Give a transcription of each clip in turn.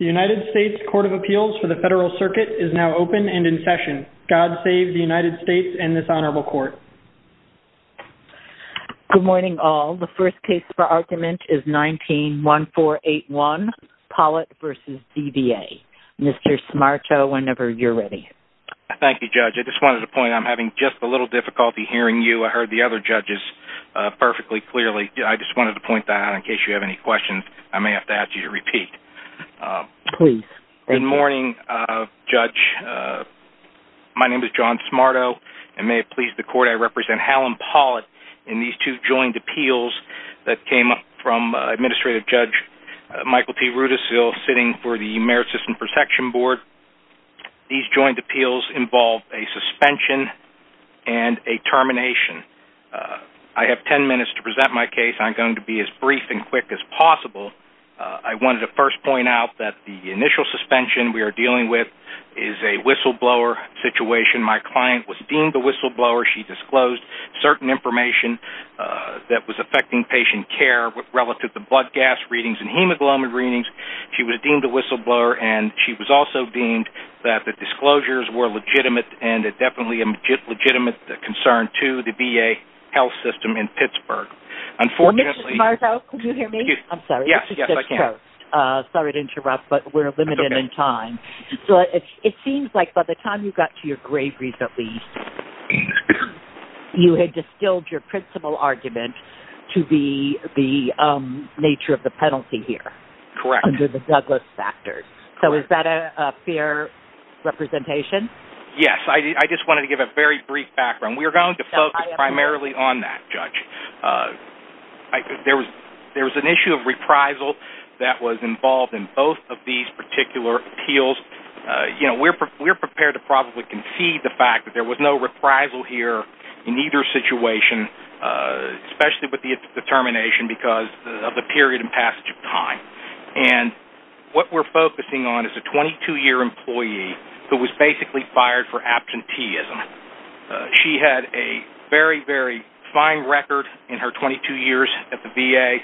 The United States Court of Appeals for the Federal Circuit is now open and in session. God save the United States and this honorable court. Good morning all. The first case for argument is 19-1481, Pollitt v. DVA. Mr. Smarto, whenever you're ready. Thank you, Judge. I just wanted to point out, I'm having just a little difficulty hearing you. I heard the other judges perfectly clearly. I just wanted to point that out in case you have any questions. I may have to ask you to repeat. Please. Good morning, Judge. My name is John Smarto. It may have pleased the court I represent Helen Pollitt in these two joint appeals that came up from Administrative Judge Michael T. Rudisill sitting for the Merit System Protection Board. These joint appeals involve a suspension and a termination. I have ten minutes to present my case. I'm going to be as brief and quick as possible. I wanted to first point out that the initial suspension we are dealing with is a whistleblower situation. My client was deemed a whistleblower. She disclosed certain information that was affecting patient care relative to blood gas readings and hemoglobin readings. She was deemed a whistleblower and she was also deemed that the disclosures were legitimate and definitely a legitimate concern to the VA health system in Pittsburgh. Unfortunately- Mr. Smarto, can you hear me? I'm sorry. Yes, I can. Sorry to interrupt, but we're limited in time. It seems like by the time you got to your grave recently, you had distilled your principal argument to the nature of the penalty here. Correct. Under the Douglas factors. Correct. Is that a fair representation? Yes. I just wanted to give a very brief background. We're going to focus primarily on that, Judge. There was an issue of reprisal that was involved in both of these particular appeals. We're prepared to probably concede the fact that there was no reprisal here in either situation, especially with the termination because of the period and passage of time. What we're focusing on is a 22-year employee who was basically fired for absenteeism. She had a very, very fine record in her 22 years at the VA.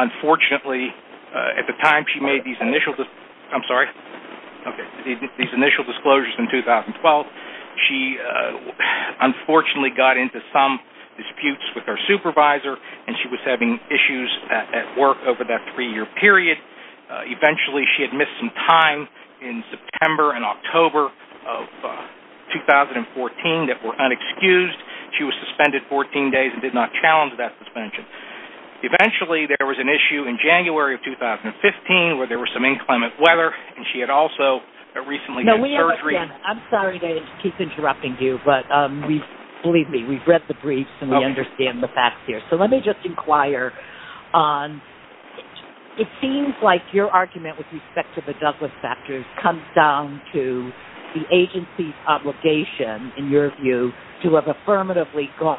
Unfortunately, at the time she made these initial disclosures in 2012, she unfortunately got into some disputes with her supervisor and she was having issues at work over that three-year period. Eventually she had missed some time in September and October of 2014 that were unexcused. She was suspended 14 days and did not challenge that suspension. Eventually there was an issue in January of 2015 where there was some inclement weather, and she had also recently had surgery. I'm sorry to keep interrupting you, but believe me, we've read the briefs and we understand the facts here. Let me just inquire. It seems like your argument with respect to the Douglas factors comes down to the agency's obligation, in your view, to have affirmatively gone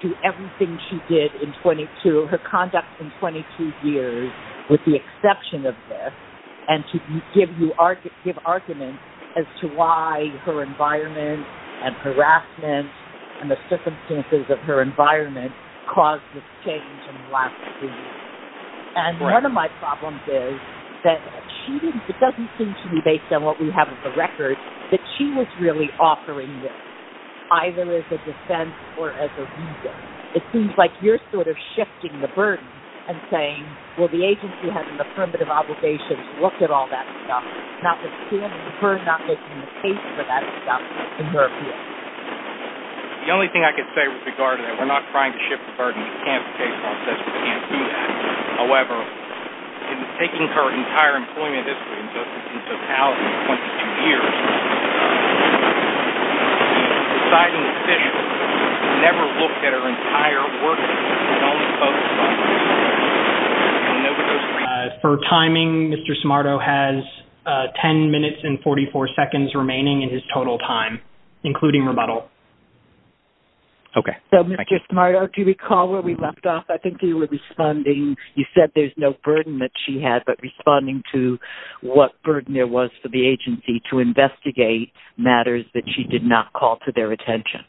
through everything she did in her conduct in 22 years with the exception of this and to give arguments as to why her environment and harassment and the circumstances of her environment caused this change in the last three years. One of my problems is that it doesn't seem to me, based on what we have of the records, that she was really offering this, either as a defense or as a reason. It seems like you're sort of shifting the burden and saying, well, the agency has an affirmative obligation to look at all that stuff, not that she and her are not making the case for that stuff, in her view. The only thing I can say with regard to that, we're not trying to shift the burden. We can't change the process. We can't do that. However, in taking her entire employment history in totality in 22 years, it's decidedly official that she never looked at her entire work history. She only focused on herself. For timing, Mr. Smarto has 10 minutes and 44 seconds remaining in his total time, including rebuttal. Okay. So, Mr. Smarto, do you recall where we left off? I think you were responding, you said there's no burden that she had, but responding to what burden there was for the agency to investigate matters that she did not call to their attention.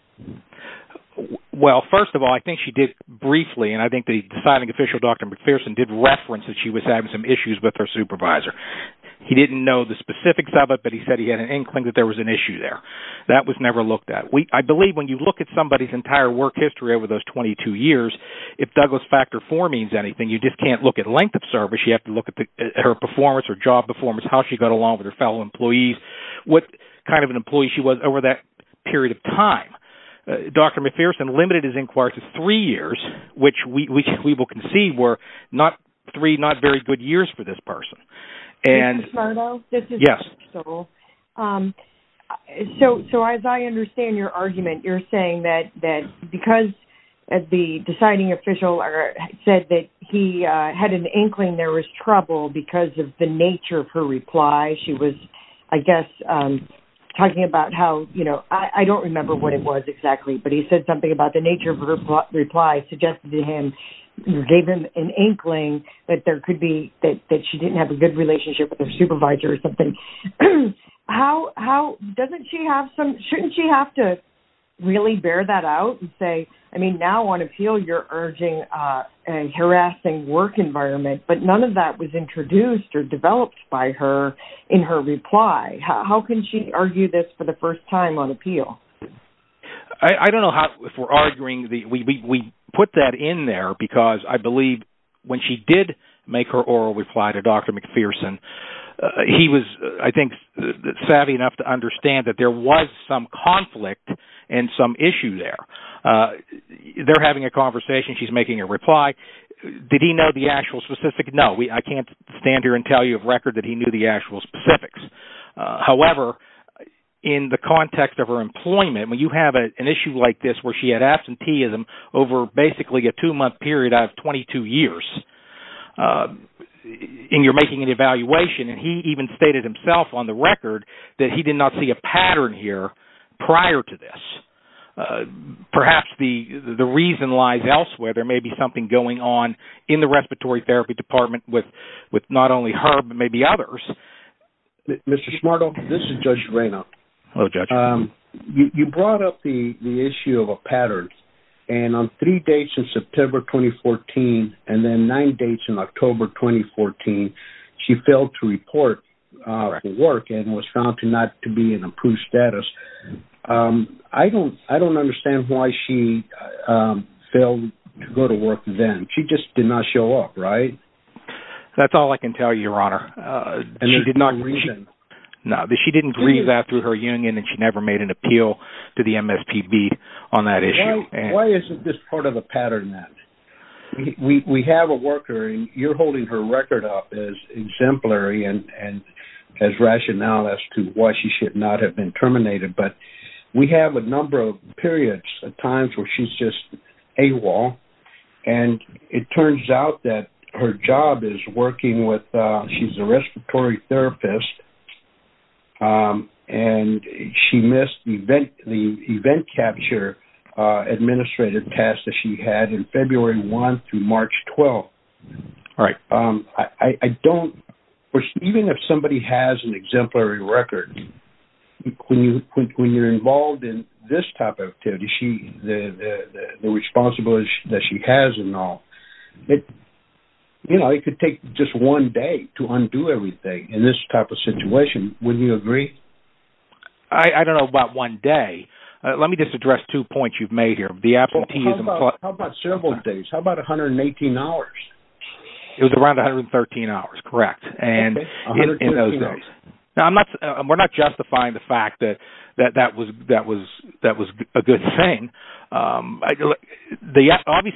Well, first of all, I think she did briefly, and I think the deciding official, Dr. McPherson, did reference that she was having some issues with her supervisor. He didn't know the specifics of it, but he said he had an inkling that there was an issue there. That was never looked at. I believe when you look at somebody's entire work history over those 22 years, if Douglas Factor IV means anything, you just can't look at length of service. You have to look at her performance, her job performance, how she got along with her fellow employees, what kind of an employee she was over that period of time. Dr. McPherson limited his inquiry to three years, which we will concede were three not very good years for this person. Mr. Smarto? Yes. So, as I understand your argument, you're saying that because the deciding official said that he had an inkling there was trouble because of the nature of her reply. She was, I guess, talking about how, you know, I don't remember what it was exactly, but he said something about the nature of her reply suggested to him, gave him an inkling that there could be, that she didn't have a good relationship with her supervisor or something. How, doesn't she have some, shouldn't she have to really bear that out and say, I mean, now on appeal you're urging a harassing work environment, but none of that was introduced or developed by her in her reply. How can she argue this for the first time on appeal? I don't know how, if we're arguing, we put that in there because I believe when she did make her oral reply to Dr. McPherson, he was, I think, savvy enough to understand that there was some conflict and some issue there. They're having a conversation. She's making a reply. Did he know the actual specifics? No, I can't stand here and tell you of record that he knew the actual specifics. However, in the context of her employment, when you have an issue like this where she had absenteeism over basically a two-month period out of 22 years, and you're making an evaluation, and he even stated himself on the record that he did not see a pattern here prior to this. Perhaps the reason lies elsewhere. There may be something going on in the respiratory therapy department with not only her but maybe others. Mr. Smartall, this is Judge Reynolds. Hello, Judge. You brought up the issue of a pattern, and on three dates in September 2014 and then nine dates in October 2014, she failed to report to work and was found to not be in improved status. I don't understand why she failed to go to work then. She just did not show up, right? That's all I can tell you, Your Honor. And there's no reason? No, she didn't grieve after her union, and she never made an appeal to the MSPB on that issue. Why isn't this part of a pattern then? We have a worker, and you're holding her record up as exemplary and as rational as to why she should not have been terminated, but we have a number of periods of times where she's just AWOL, and it turns out that her job is working with a respiratory therapist, and she missed the event capture administrative task that she had in February 1 through March 12. All right. I don't – even if somebody has an exemplary record, when you're involved in this type of activity, the responsibility that she has and all, you know, it could take just one day to undo everything in this type of situation. Wouldn't you agree? I don't know about one day. Let me just address two points you've made here. How about several days? How about 118 hours? It was around 113 hours, correct, in those days. We're not justifying the fact that that was a good thing. Obviously,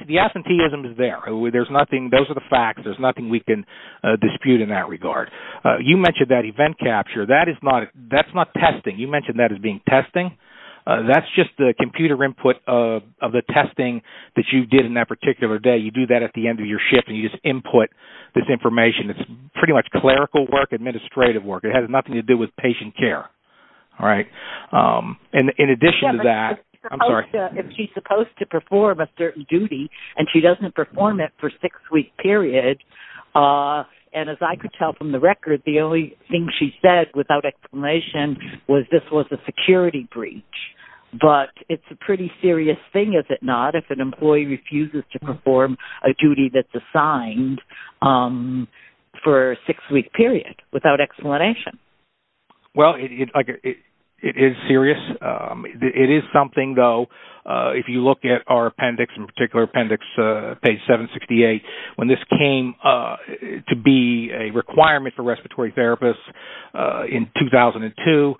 the absenteeism is there. Those are the facts. There's nothing we can dispute in that regard. You mentioned that event capture. That's not testing. You mentioned that as being testing. That's just the computer input of the testing that you did in that particular day. You do that at the end of your shift, and you just input this information. It's pretty much clerical work, administrative work. It has nothing to do with patient care. All right. In addition to that, I'm sorry. And she doesn't perform it for a six-week period. And as I could tell from the record, the only thing she said without explanation was this was a security breach. But it's a pretty serious thing, is it not, if an employee refuses to perform a duty that's assigned for a six-week period, without explanation. Well, it is serious. It is something, though, if you look at our appendix, in particular appendix page 768, when this came to be a requirement for respiratory therapists in 2002,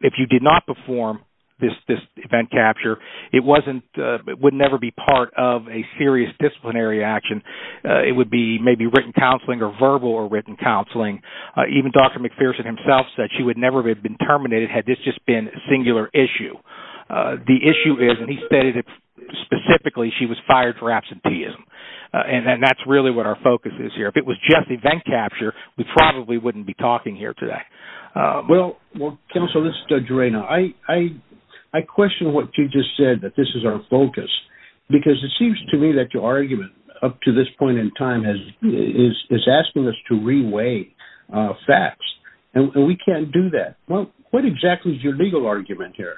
if you did not perform this event capture, it would never be part of a serious disciplinary action. It would be maybe written counseling or verbal or written counseling. Even Dr. McPherson himself said she would never have been terminated had this just been a singular issue. The issue is, and he stated it specifically, she was fired for absenteeism. And that's really what our focus is here. If it was just event capture, we probably wouldn't be talking here today. Well, Counsel, this is Doug Gerano. I question what you just said, that this is our focus, because it seems to me that your argument up to this point in time is asking us to re-weigh facts. And we can't do that. Well, what exactly is your legal argument here?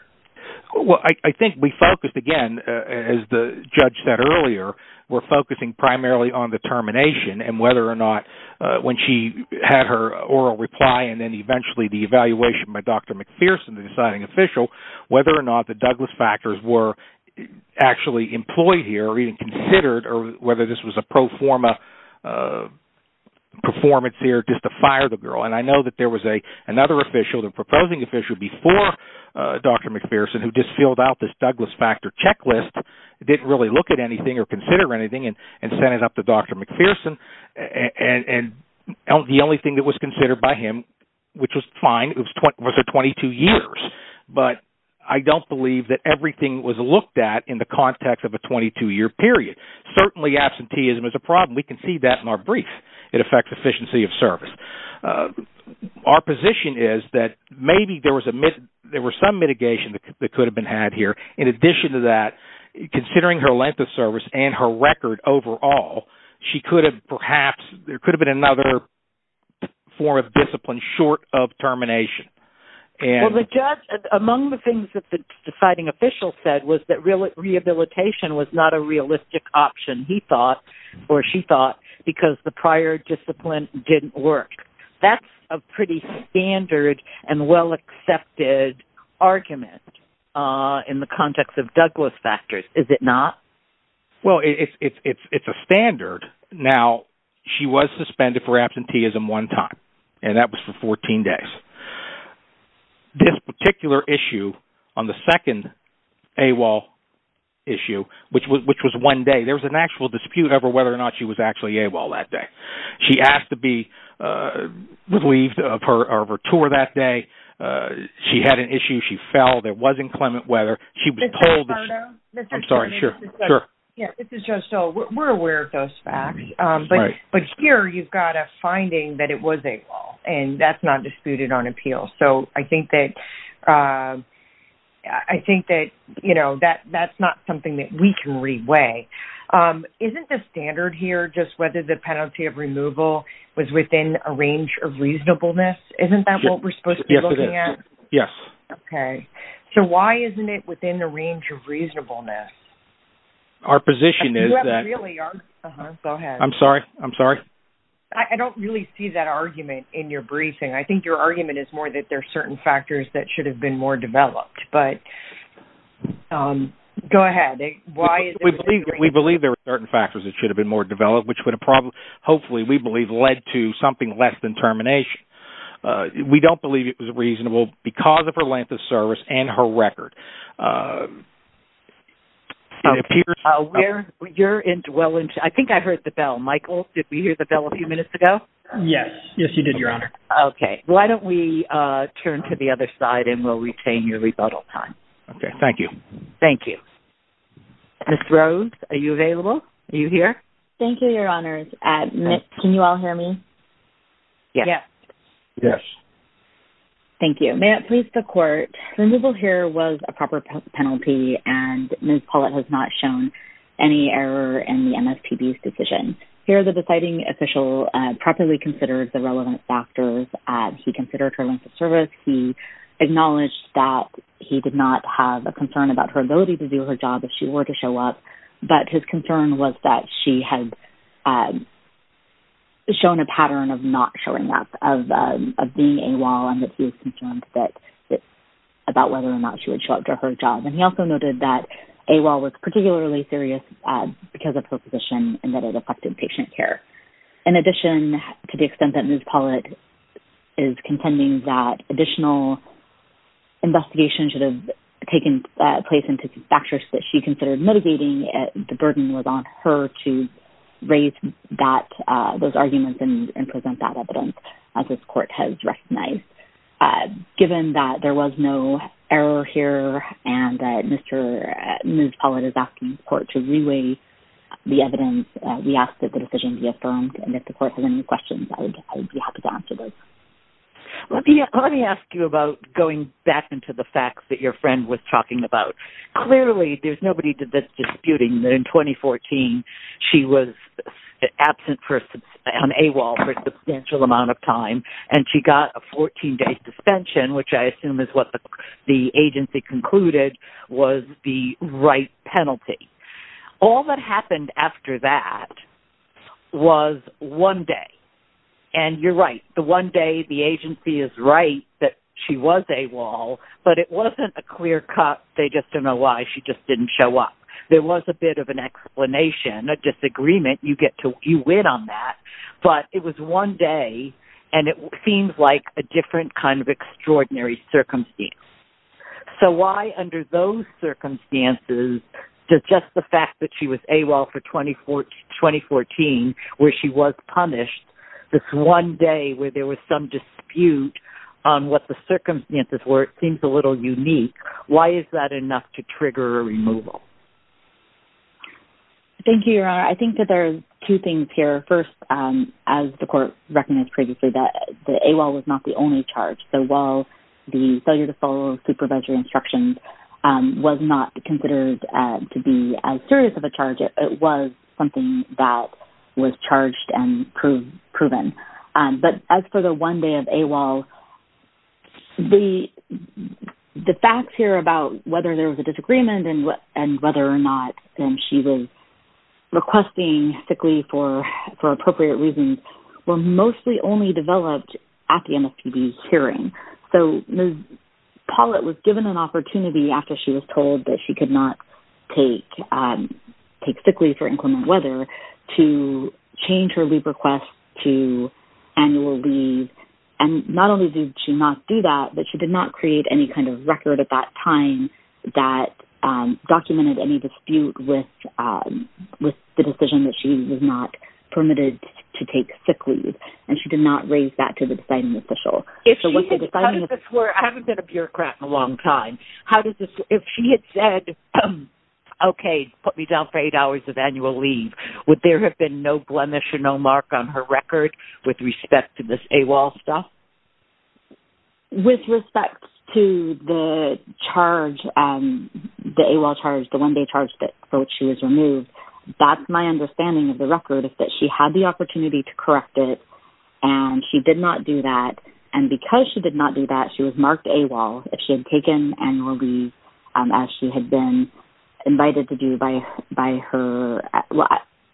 Well, I think we focused, again, as the judge said earlier, we're focusing primarily on the termination and whether or not when she had her oral reply and then eventually the evaluation by Dr. McPherson, the deciding official, whether or not the Douglas factors were actually employed here or even considered or whether this was a pro forma performance here just to fire the girl. And I know that there was another official, the proposing official, before Dr. McPherson who just filled out this Douglas factor checklist, didn't really look at anything or consider anything and sent it up to Dr. McPherson. And the only thing that was considered by him, which was fine, was her 22 years. But I don't believe that everything was looked at in the context of a 22-year period. Certainly, absenteeism is a problem. We can see that in our brief. It affects efficiency of service. Our position is that maybe there was some mitigation that could have been had here. In addition to that, considering her length of service and her record overall, she could have perhaps, there could have been another form of discipline short of termination. Among the things that the deciding official said was that rehabilitation was not a realistic option, he thought or she thought, because the prior discipline didn't work. That's a pretty standard and well-accepted argument in the context of Douglas factors, is it not? Well, it's a standard. Now, she was suspended for absenteeism one time, and that was for 14 days. This particular issue on the second AWOL issue, which was one day, there was an actual dispute over whether or not she was actually AWOL that day. She asked to be relieved of her tour that day. She had an issue, she fell, there wasn't clement weather. This is Joe Stoll. We're aware of those facts, but here you've got a finding that it was AWOL, and that's not disputed on appeal. So I think that that's not something that we can reweigh. Isn't the standard here just whether the penalty of removal was within a range of reasonableness? Isn't that what we're supposed to be looking at? Yes, it is. Yes. Okay. So why isn't it within the range of reasonableness? Our position is that- Go ahead. I'm sorry. I'm sorry. I don't really see that argument in your briefing. I think your argument is more that there are certain factors that should have been more developed. Go ahead. We believe there are certain factors that should have been more developed, which hopefully we believe led to something less than termination. We don't believe it was reasonable because of her length of service and her record. You're well into- I think I heard the bell. Michael, did we hear the bell a few minutes ago? Yes. Yes, you did, Your Honor. Okay. Why don't we turn to the other side, and we'll retain your rebuttal time. Okay. Thank you. Thank you. Ms. Rose, are you available? Are you here? Thank you, Your Honor. Can you all hear me? Yes. Yes. Thank you. May it please the Court, removal here was a proper penalty, and Ms. Pollitt has not shown any error in the MSPB's decision. Here, the deciding official properly considered the relevant factors. He considered her length of service. He acknowledged that he did not have a concern about her ability to do her job if she were to show up, but his concern was that she had shown a pattern of not showing up, of being AWOL, and that he was concerned about whether or not she would show up to her job. And he also noted that AWOL was particularly serious because of her position and that it affected patient care. In addition, to the extent that Ms. Pollitt is contending that additional investigations should have taken place into factors that she considered mitigating, the burden was on her to raise those arguments and present that evidence, as this Court has recognized. Given that there was no error here and that Ms. Pollitt is asking the Court to reweigh the evidence, we ask that the decision be affirmed, and if the Court has any questions, I would be happy to answer those. Let me ask you about going back into the facts that your friend was talking about. Clearly, there's nobody that's disputing that in 2014 she was absent on AWOL for a substantial amount of time and she got a 14-day suspension, which I assume is what the agency concluded was the right penalty. All that happened after that was one day, and you're right. One day, the agency is right that she was AWOL, but it wasn't a clear cut, they just don't know why she just didn't show up. There was a bit of an explanation, a disagreement. You win on that. But it was one day, and it seems like a different kind of extraordinary circumstance. So why, under those circumstances, does just the fact that she was AWOL for 2014, where she was punished, this one day where there was some dispute on what the circumstances were, it seems a little unique. Why is that enough to trigger a removal? Thank you, Your Honor. I think that there are two things here. First, as the Court recognized previously, that AWOL was not the only charge. So while the failure to follow supervisory instructions was not considered to be as serious of a charge, it was something that was charged and proven. But as for the one day of AWOL, the facts here about whether there was a disagreement and whether or not she was requesting sick leave for appropriate reasons were mostly only developed at the MSPB's hearing. So Ms. Pollitt was given an opportunity after she was told that she could not take sick leave for inclement weather to change her leave request to annual leave. And not only did she not do that, but she did not create any kind of record at that time that documented any dispute with the decision that she was not permitted to take sick leave. And she did not raise that to the deciding official. I haven't been a bureaucrat in a long time. If she had said, okay, put me down for eight hours of annual leave, would there have been no blemish or no mark on her record with respect to this AWOL stuff? With respect to the AWOL charge, the one day charge that she was removed, that's my understanding of the record is that she had the opportunity to correct it and she did not do that. And because she did not do that, she was marked AWOL if she had taken annual leave as she had been invited to do by her... Well,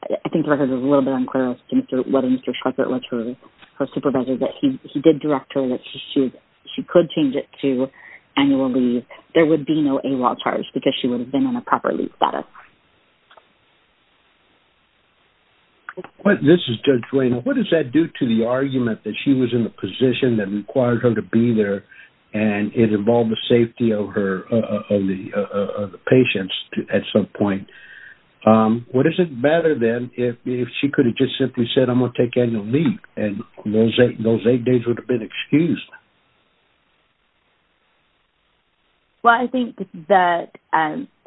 I think the record is a little bit unclear as to whether Mr. Schweikert was her supervisor, but he did direct her that she could change it to annual leave. There would be no AWOL charge because she would have been in a proper leave status. This is Judge Wayne. What does that do to the argument that she was in a position that required her to be there and it involved the safety of the patients at some point? What is it better than if she could have just simply said, I'm going to take annual leave, and those eight days would have been excused? Well, I think that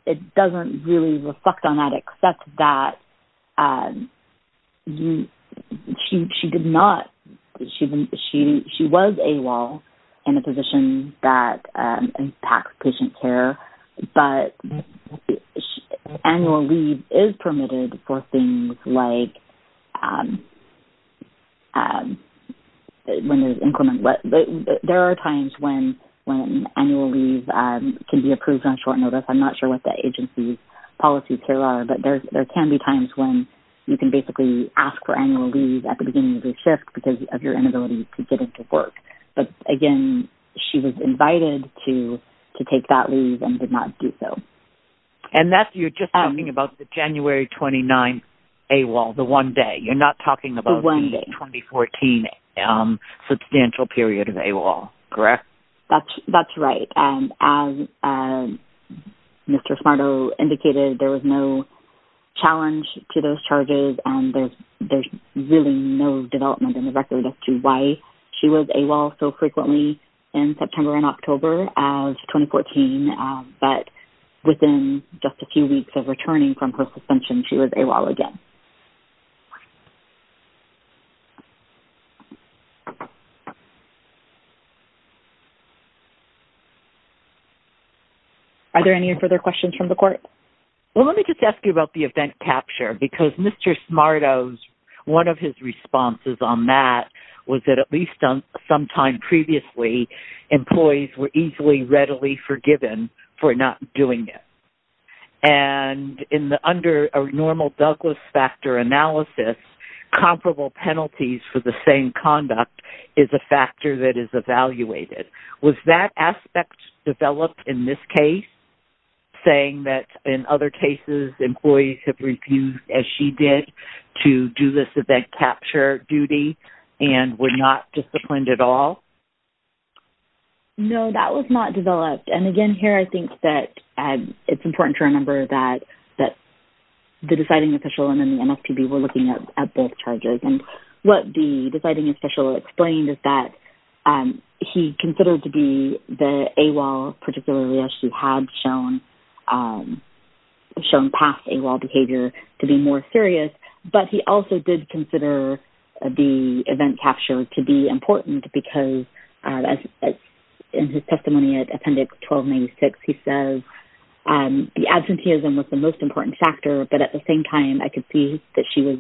it doesn't really reflect on that except that she did not... She was AWOL in a position that impacts patient care, but annual leave is permitted for things like when there's... There are times when annual leave can be approved on short notice. I'm not sure what the agency's policies here are, but there can be times when you can basically ask for annual leave at the beginning of your shift because of your inability to get into work. But, again, she was invited to take that leave and did not do so. And you're just talking about the January 29th AWOL, the one day. You're not talking about the 2014 substantial period of AWOL, correct? That's right. As Mr. Smarto indicated, there was no challenge to those charges and there's really no development in the record as to why she was AWOL so frequently in September and October of 2014, but within just a few weeks of returning from her suspension, she was AWOL again. Are there any further questions from the court? Well, let me just ask you about the event capture because Mr. Smarto's...one of his responses on that was that, at least some time previously, employees were easily readily forgiven for not doing it. And under a normal Douglas factor analysis, comparable penalties for the same conduct is a factor that is evaluated. Was that aspect developed in this case, saying that in other cases employees have refused, as she did, to do this event capture duty and were not disciplined at all? No, that was not developed. And, again, here I think that it's important to remember that the deciding official and then the MSPB were looking at both charges. And what the deciding official explained is that he considered to be the AWOL, particularly as she had shown past AWOL behavior, to be more serious. But he also did consider the event capture to be important because, as in his testimony at Appendix 1296, he says, the absenteeism was the most important factor, but at the same time I could see that she was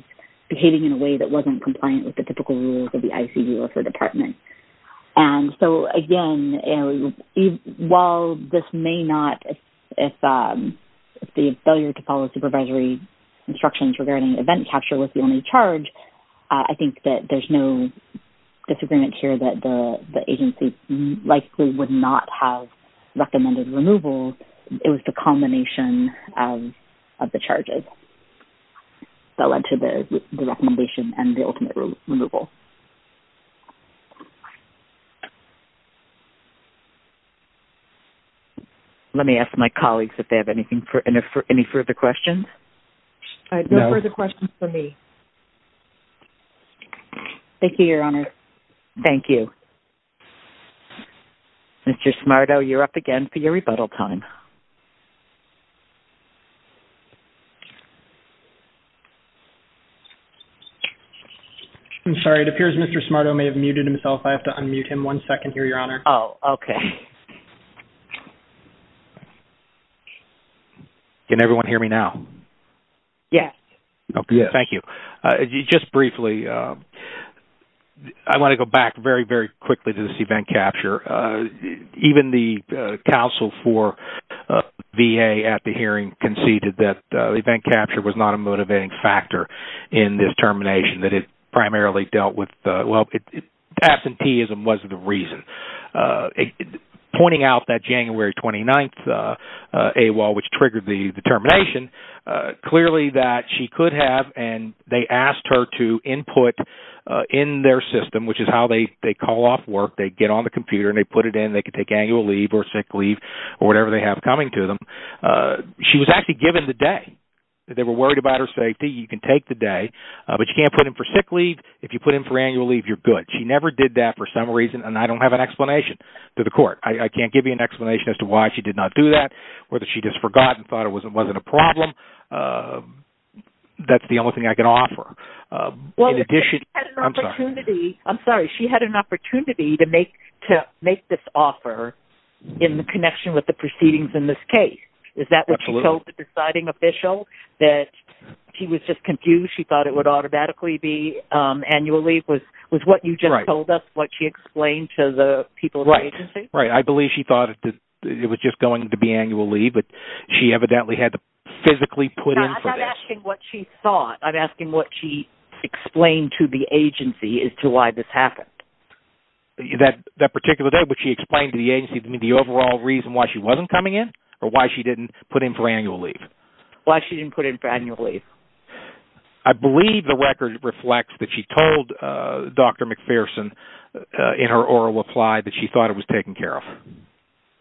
behaving in a way that wasn't compliant with the typical rules of the ICU of her department. And so, again, while this may not, if the failure to follow supervisory instructions regarding event capture was the only charge, I think that there's no disagreement here that the agency likely would not have recommended removal. It was the culmination of the charges that led to the recommendation and the ultimate removal. Thank you. Let me ask my colleagues if they have any further questions. No further questions for me. Thank you, Your Honor. Thank you. Mr. Smarto, you're up again for your rebuttal time. I'm sorry. It appears Mr. Smarto may have muted himself. I have to unmute him one second here, Your Honor. Oh, okay. Can everyone hear me now? Yes. Okay, thank you. Just briefly, I want to go back very, very quickly to this event capture. Even the counsel for this event, VA at the hearing conceded that event capture was not a motivating factor in this termination, that it primarily dealt with, well, absenteeism wasn't the reason. Pointing out that January 29th AWOL, which triggered the termination, clearly that she could have, and they asked her to input in their system, which is how they call off work. They get on the computer and they put it in. They could take annual leave or sick leave or whatever they have coming to them. She was actually given the day. They were worried about her safety. You can take the day, but you can't put him for sick leave. If you put him for annual leave, you're good. She never did that for some reason, and I don't have an explanation to the court. I can't give you an explanation as to why she did not do that or that she just forgot and thought it wasn't a problem. That's the only thing I can offer. She had an opportunity to make this offer in connection with the proceedings in this case. Is that what you told the deciding official, that she was just confused, she thought it would automatically be annual leave, was what you just told us, what she explained to the people at the agency? Right. I believe she thought it was just going to be annual leave, but she evidently had to physically put in for this. I'm asking what she thought. I'm asking what she explained to the agency as to why this happened. That particular day, what she explained to the agency, the overall reason why she wasn't coming in or why she didn't put him for annual leave? Why she didn't put him for annual leave. I believe the record reflects that she told Dr. McPherson in her oral reply that she thought it was taken care of.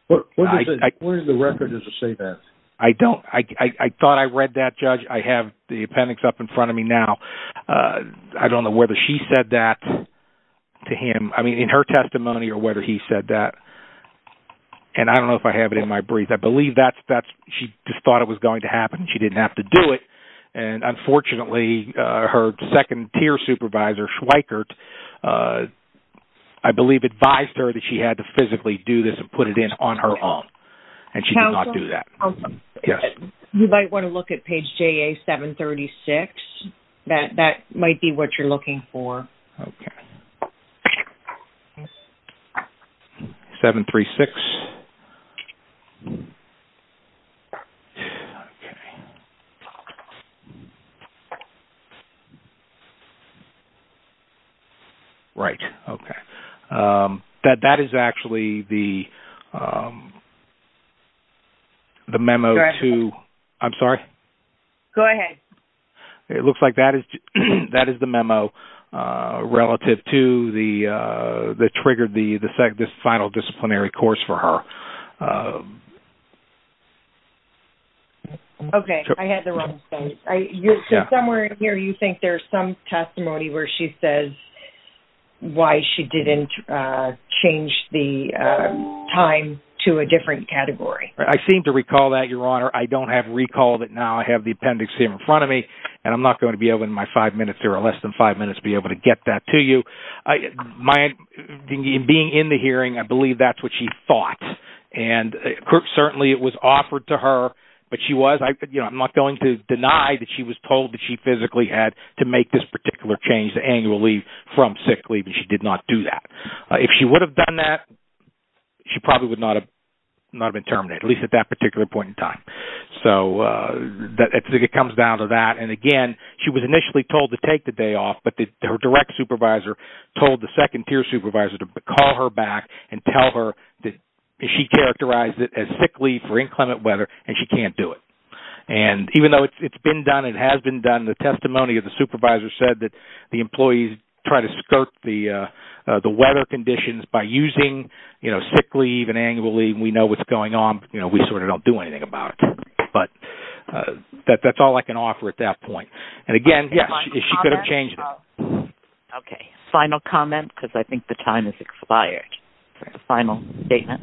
What does the record say that? I don't. I thought I read that, Judge. I have the appendix up in front of me now. I don't know whether she said that to him. I mean, in her testimony or whether he said that. And I don't know if I have it in my brief. I believe she just thought it was going to happen. She didn't have to do it. And unfortunately, her second-tier supervisor, Schweikert, I believe advised her that she had to physically do this and put it in on her own, and she did not do that. You might want to look at page JA736. That might be what you're looking for. 736. Right. Okay. That is actually the memo to... Go ahead. I'm sorry? Go ahead. It looks like that is the memo relative to the trigger, the final disciplinary course for her. Okay. I had the wrong thing. Somewhere in here you think there's some testimony where she says why she didn't change the time to a different category. I seem to recall that, Your Honor. I don't have recall that now I have the appendix here in front of me, and I'm not going to be able in my five minutes or less than five minutes to be able to get that to you. Being in the hearing, I believe that's what she thought. And certainly it was offered to her, but she was... I'm not going to deny that she was told that she physically had to make this particular change to annual leave from sick leave, and she did not do that. If she would have done that, she probably would not have been terminated, at least at that particular point in time. So it comes down to that. And, again, she was initially told to take the day off, but her direct supervisor told the second-tier supervisor to call her back and tell her that she characterized it as sick leave for inclement weather, and she can't do it. And even though it's been done and has been done, the testimony of the supervisor said that the employees try to skirt the weather conditions by using sick leave and annual leave. We know what's going on, but we sort of don't do anything about it. But that's all I can offer at that point. And, again, yes, she could have changed it. Okay. Final comment, because I think the time has expired. Final statement.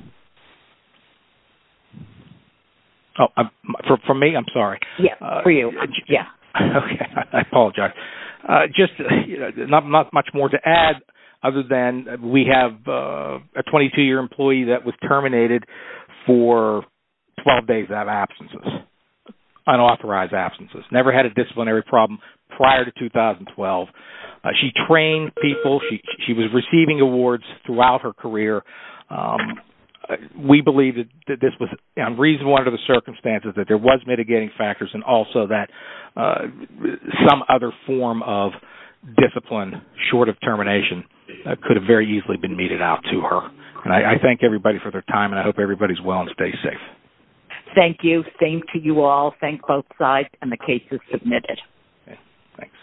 Oh, from me? I'm sorry. Yes, for you. Yes. Okay. I apologize. Just not much more to add other than we have a 22-year employee that was terminated for 12 days of absences, unauthorized absences, never had a disciplinary problem prior to 2012. She trained people. She was receiving awards throughout her career. We believe that this was reason one of the circumstances, that there was mitigating factors, and also that some other form of discipline short of termination could have very easily been meted out to her. And I thank everybody for their time, and I hope everybody's well and stays safe. Thank you. Same to you all. Thank both sides, and the case is submitted. Okay. Thanks.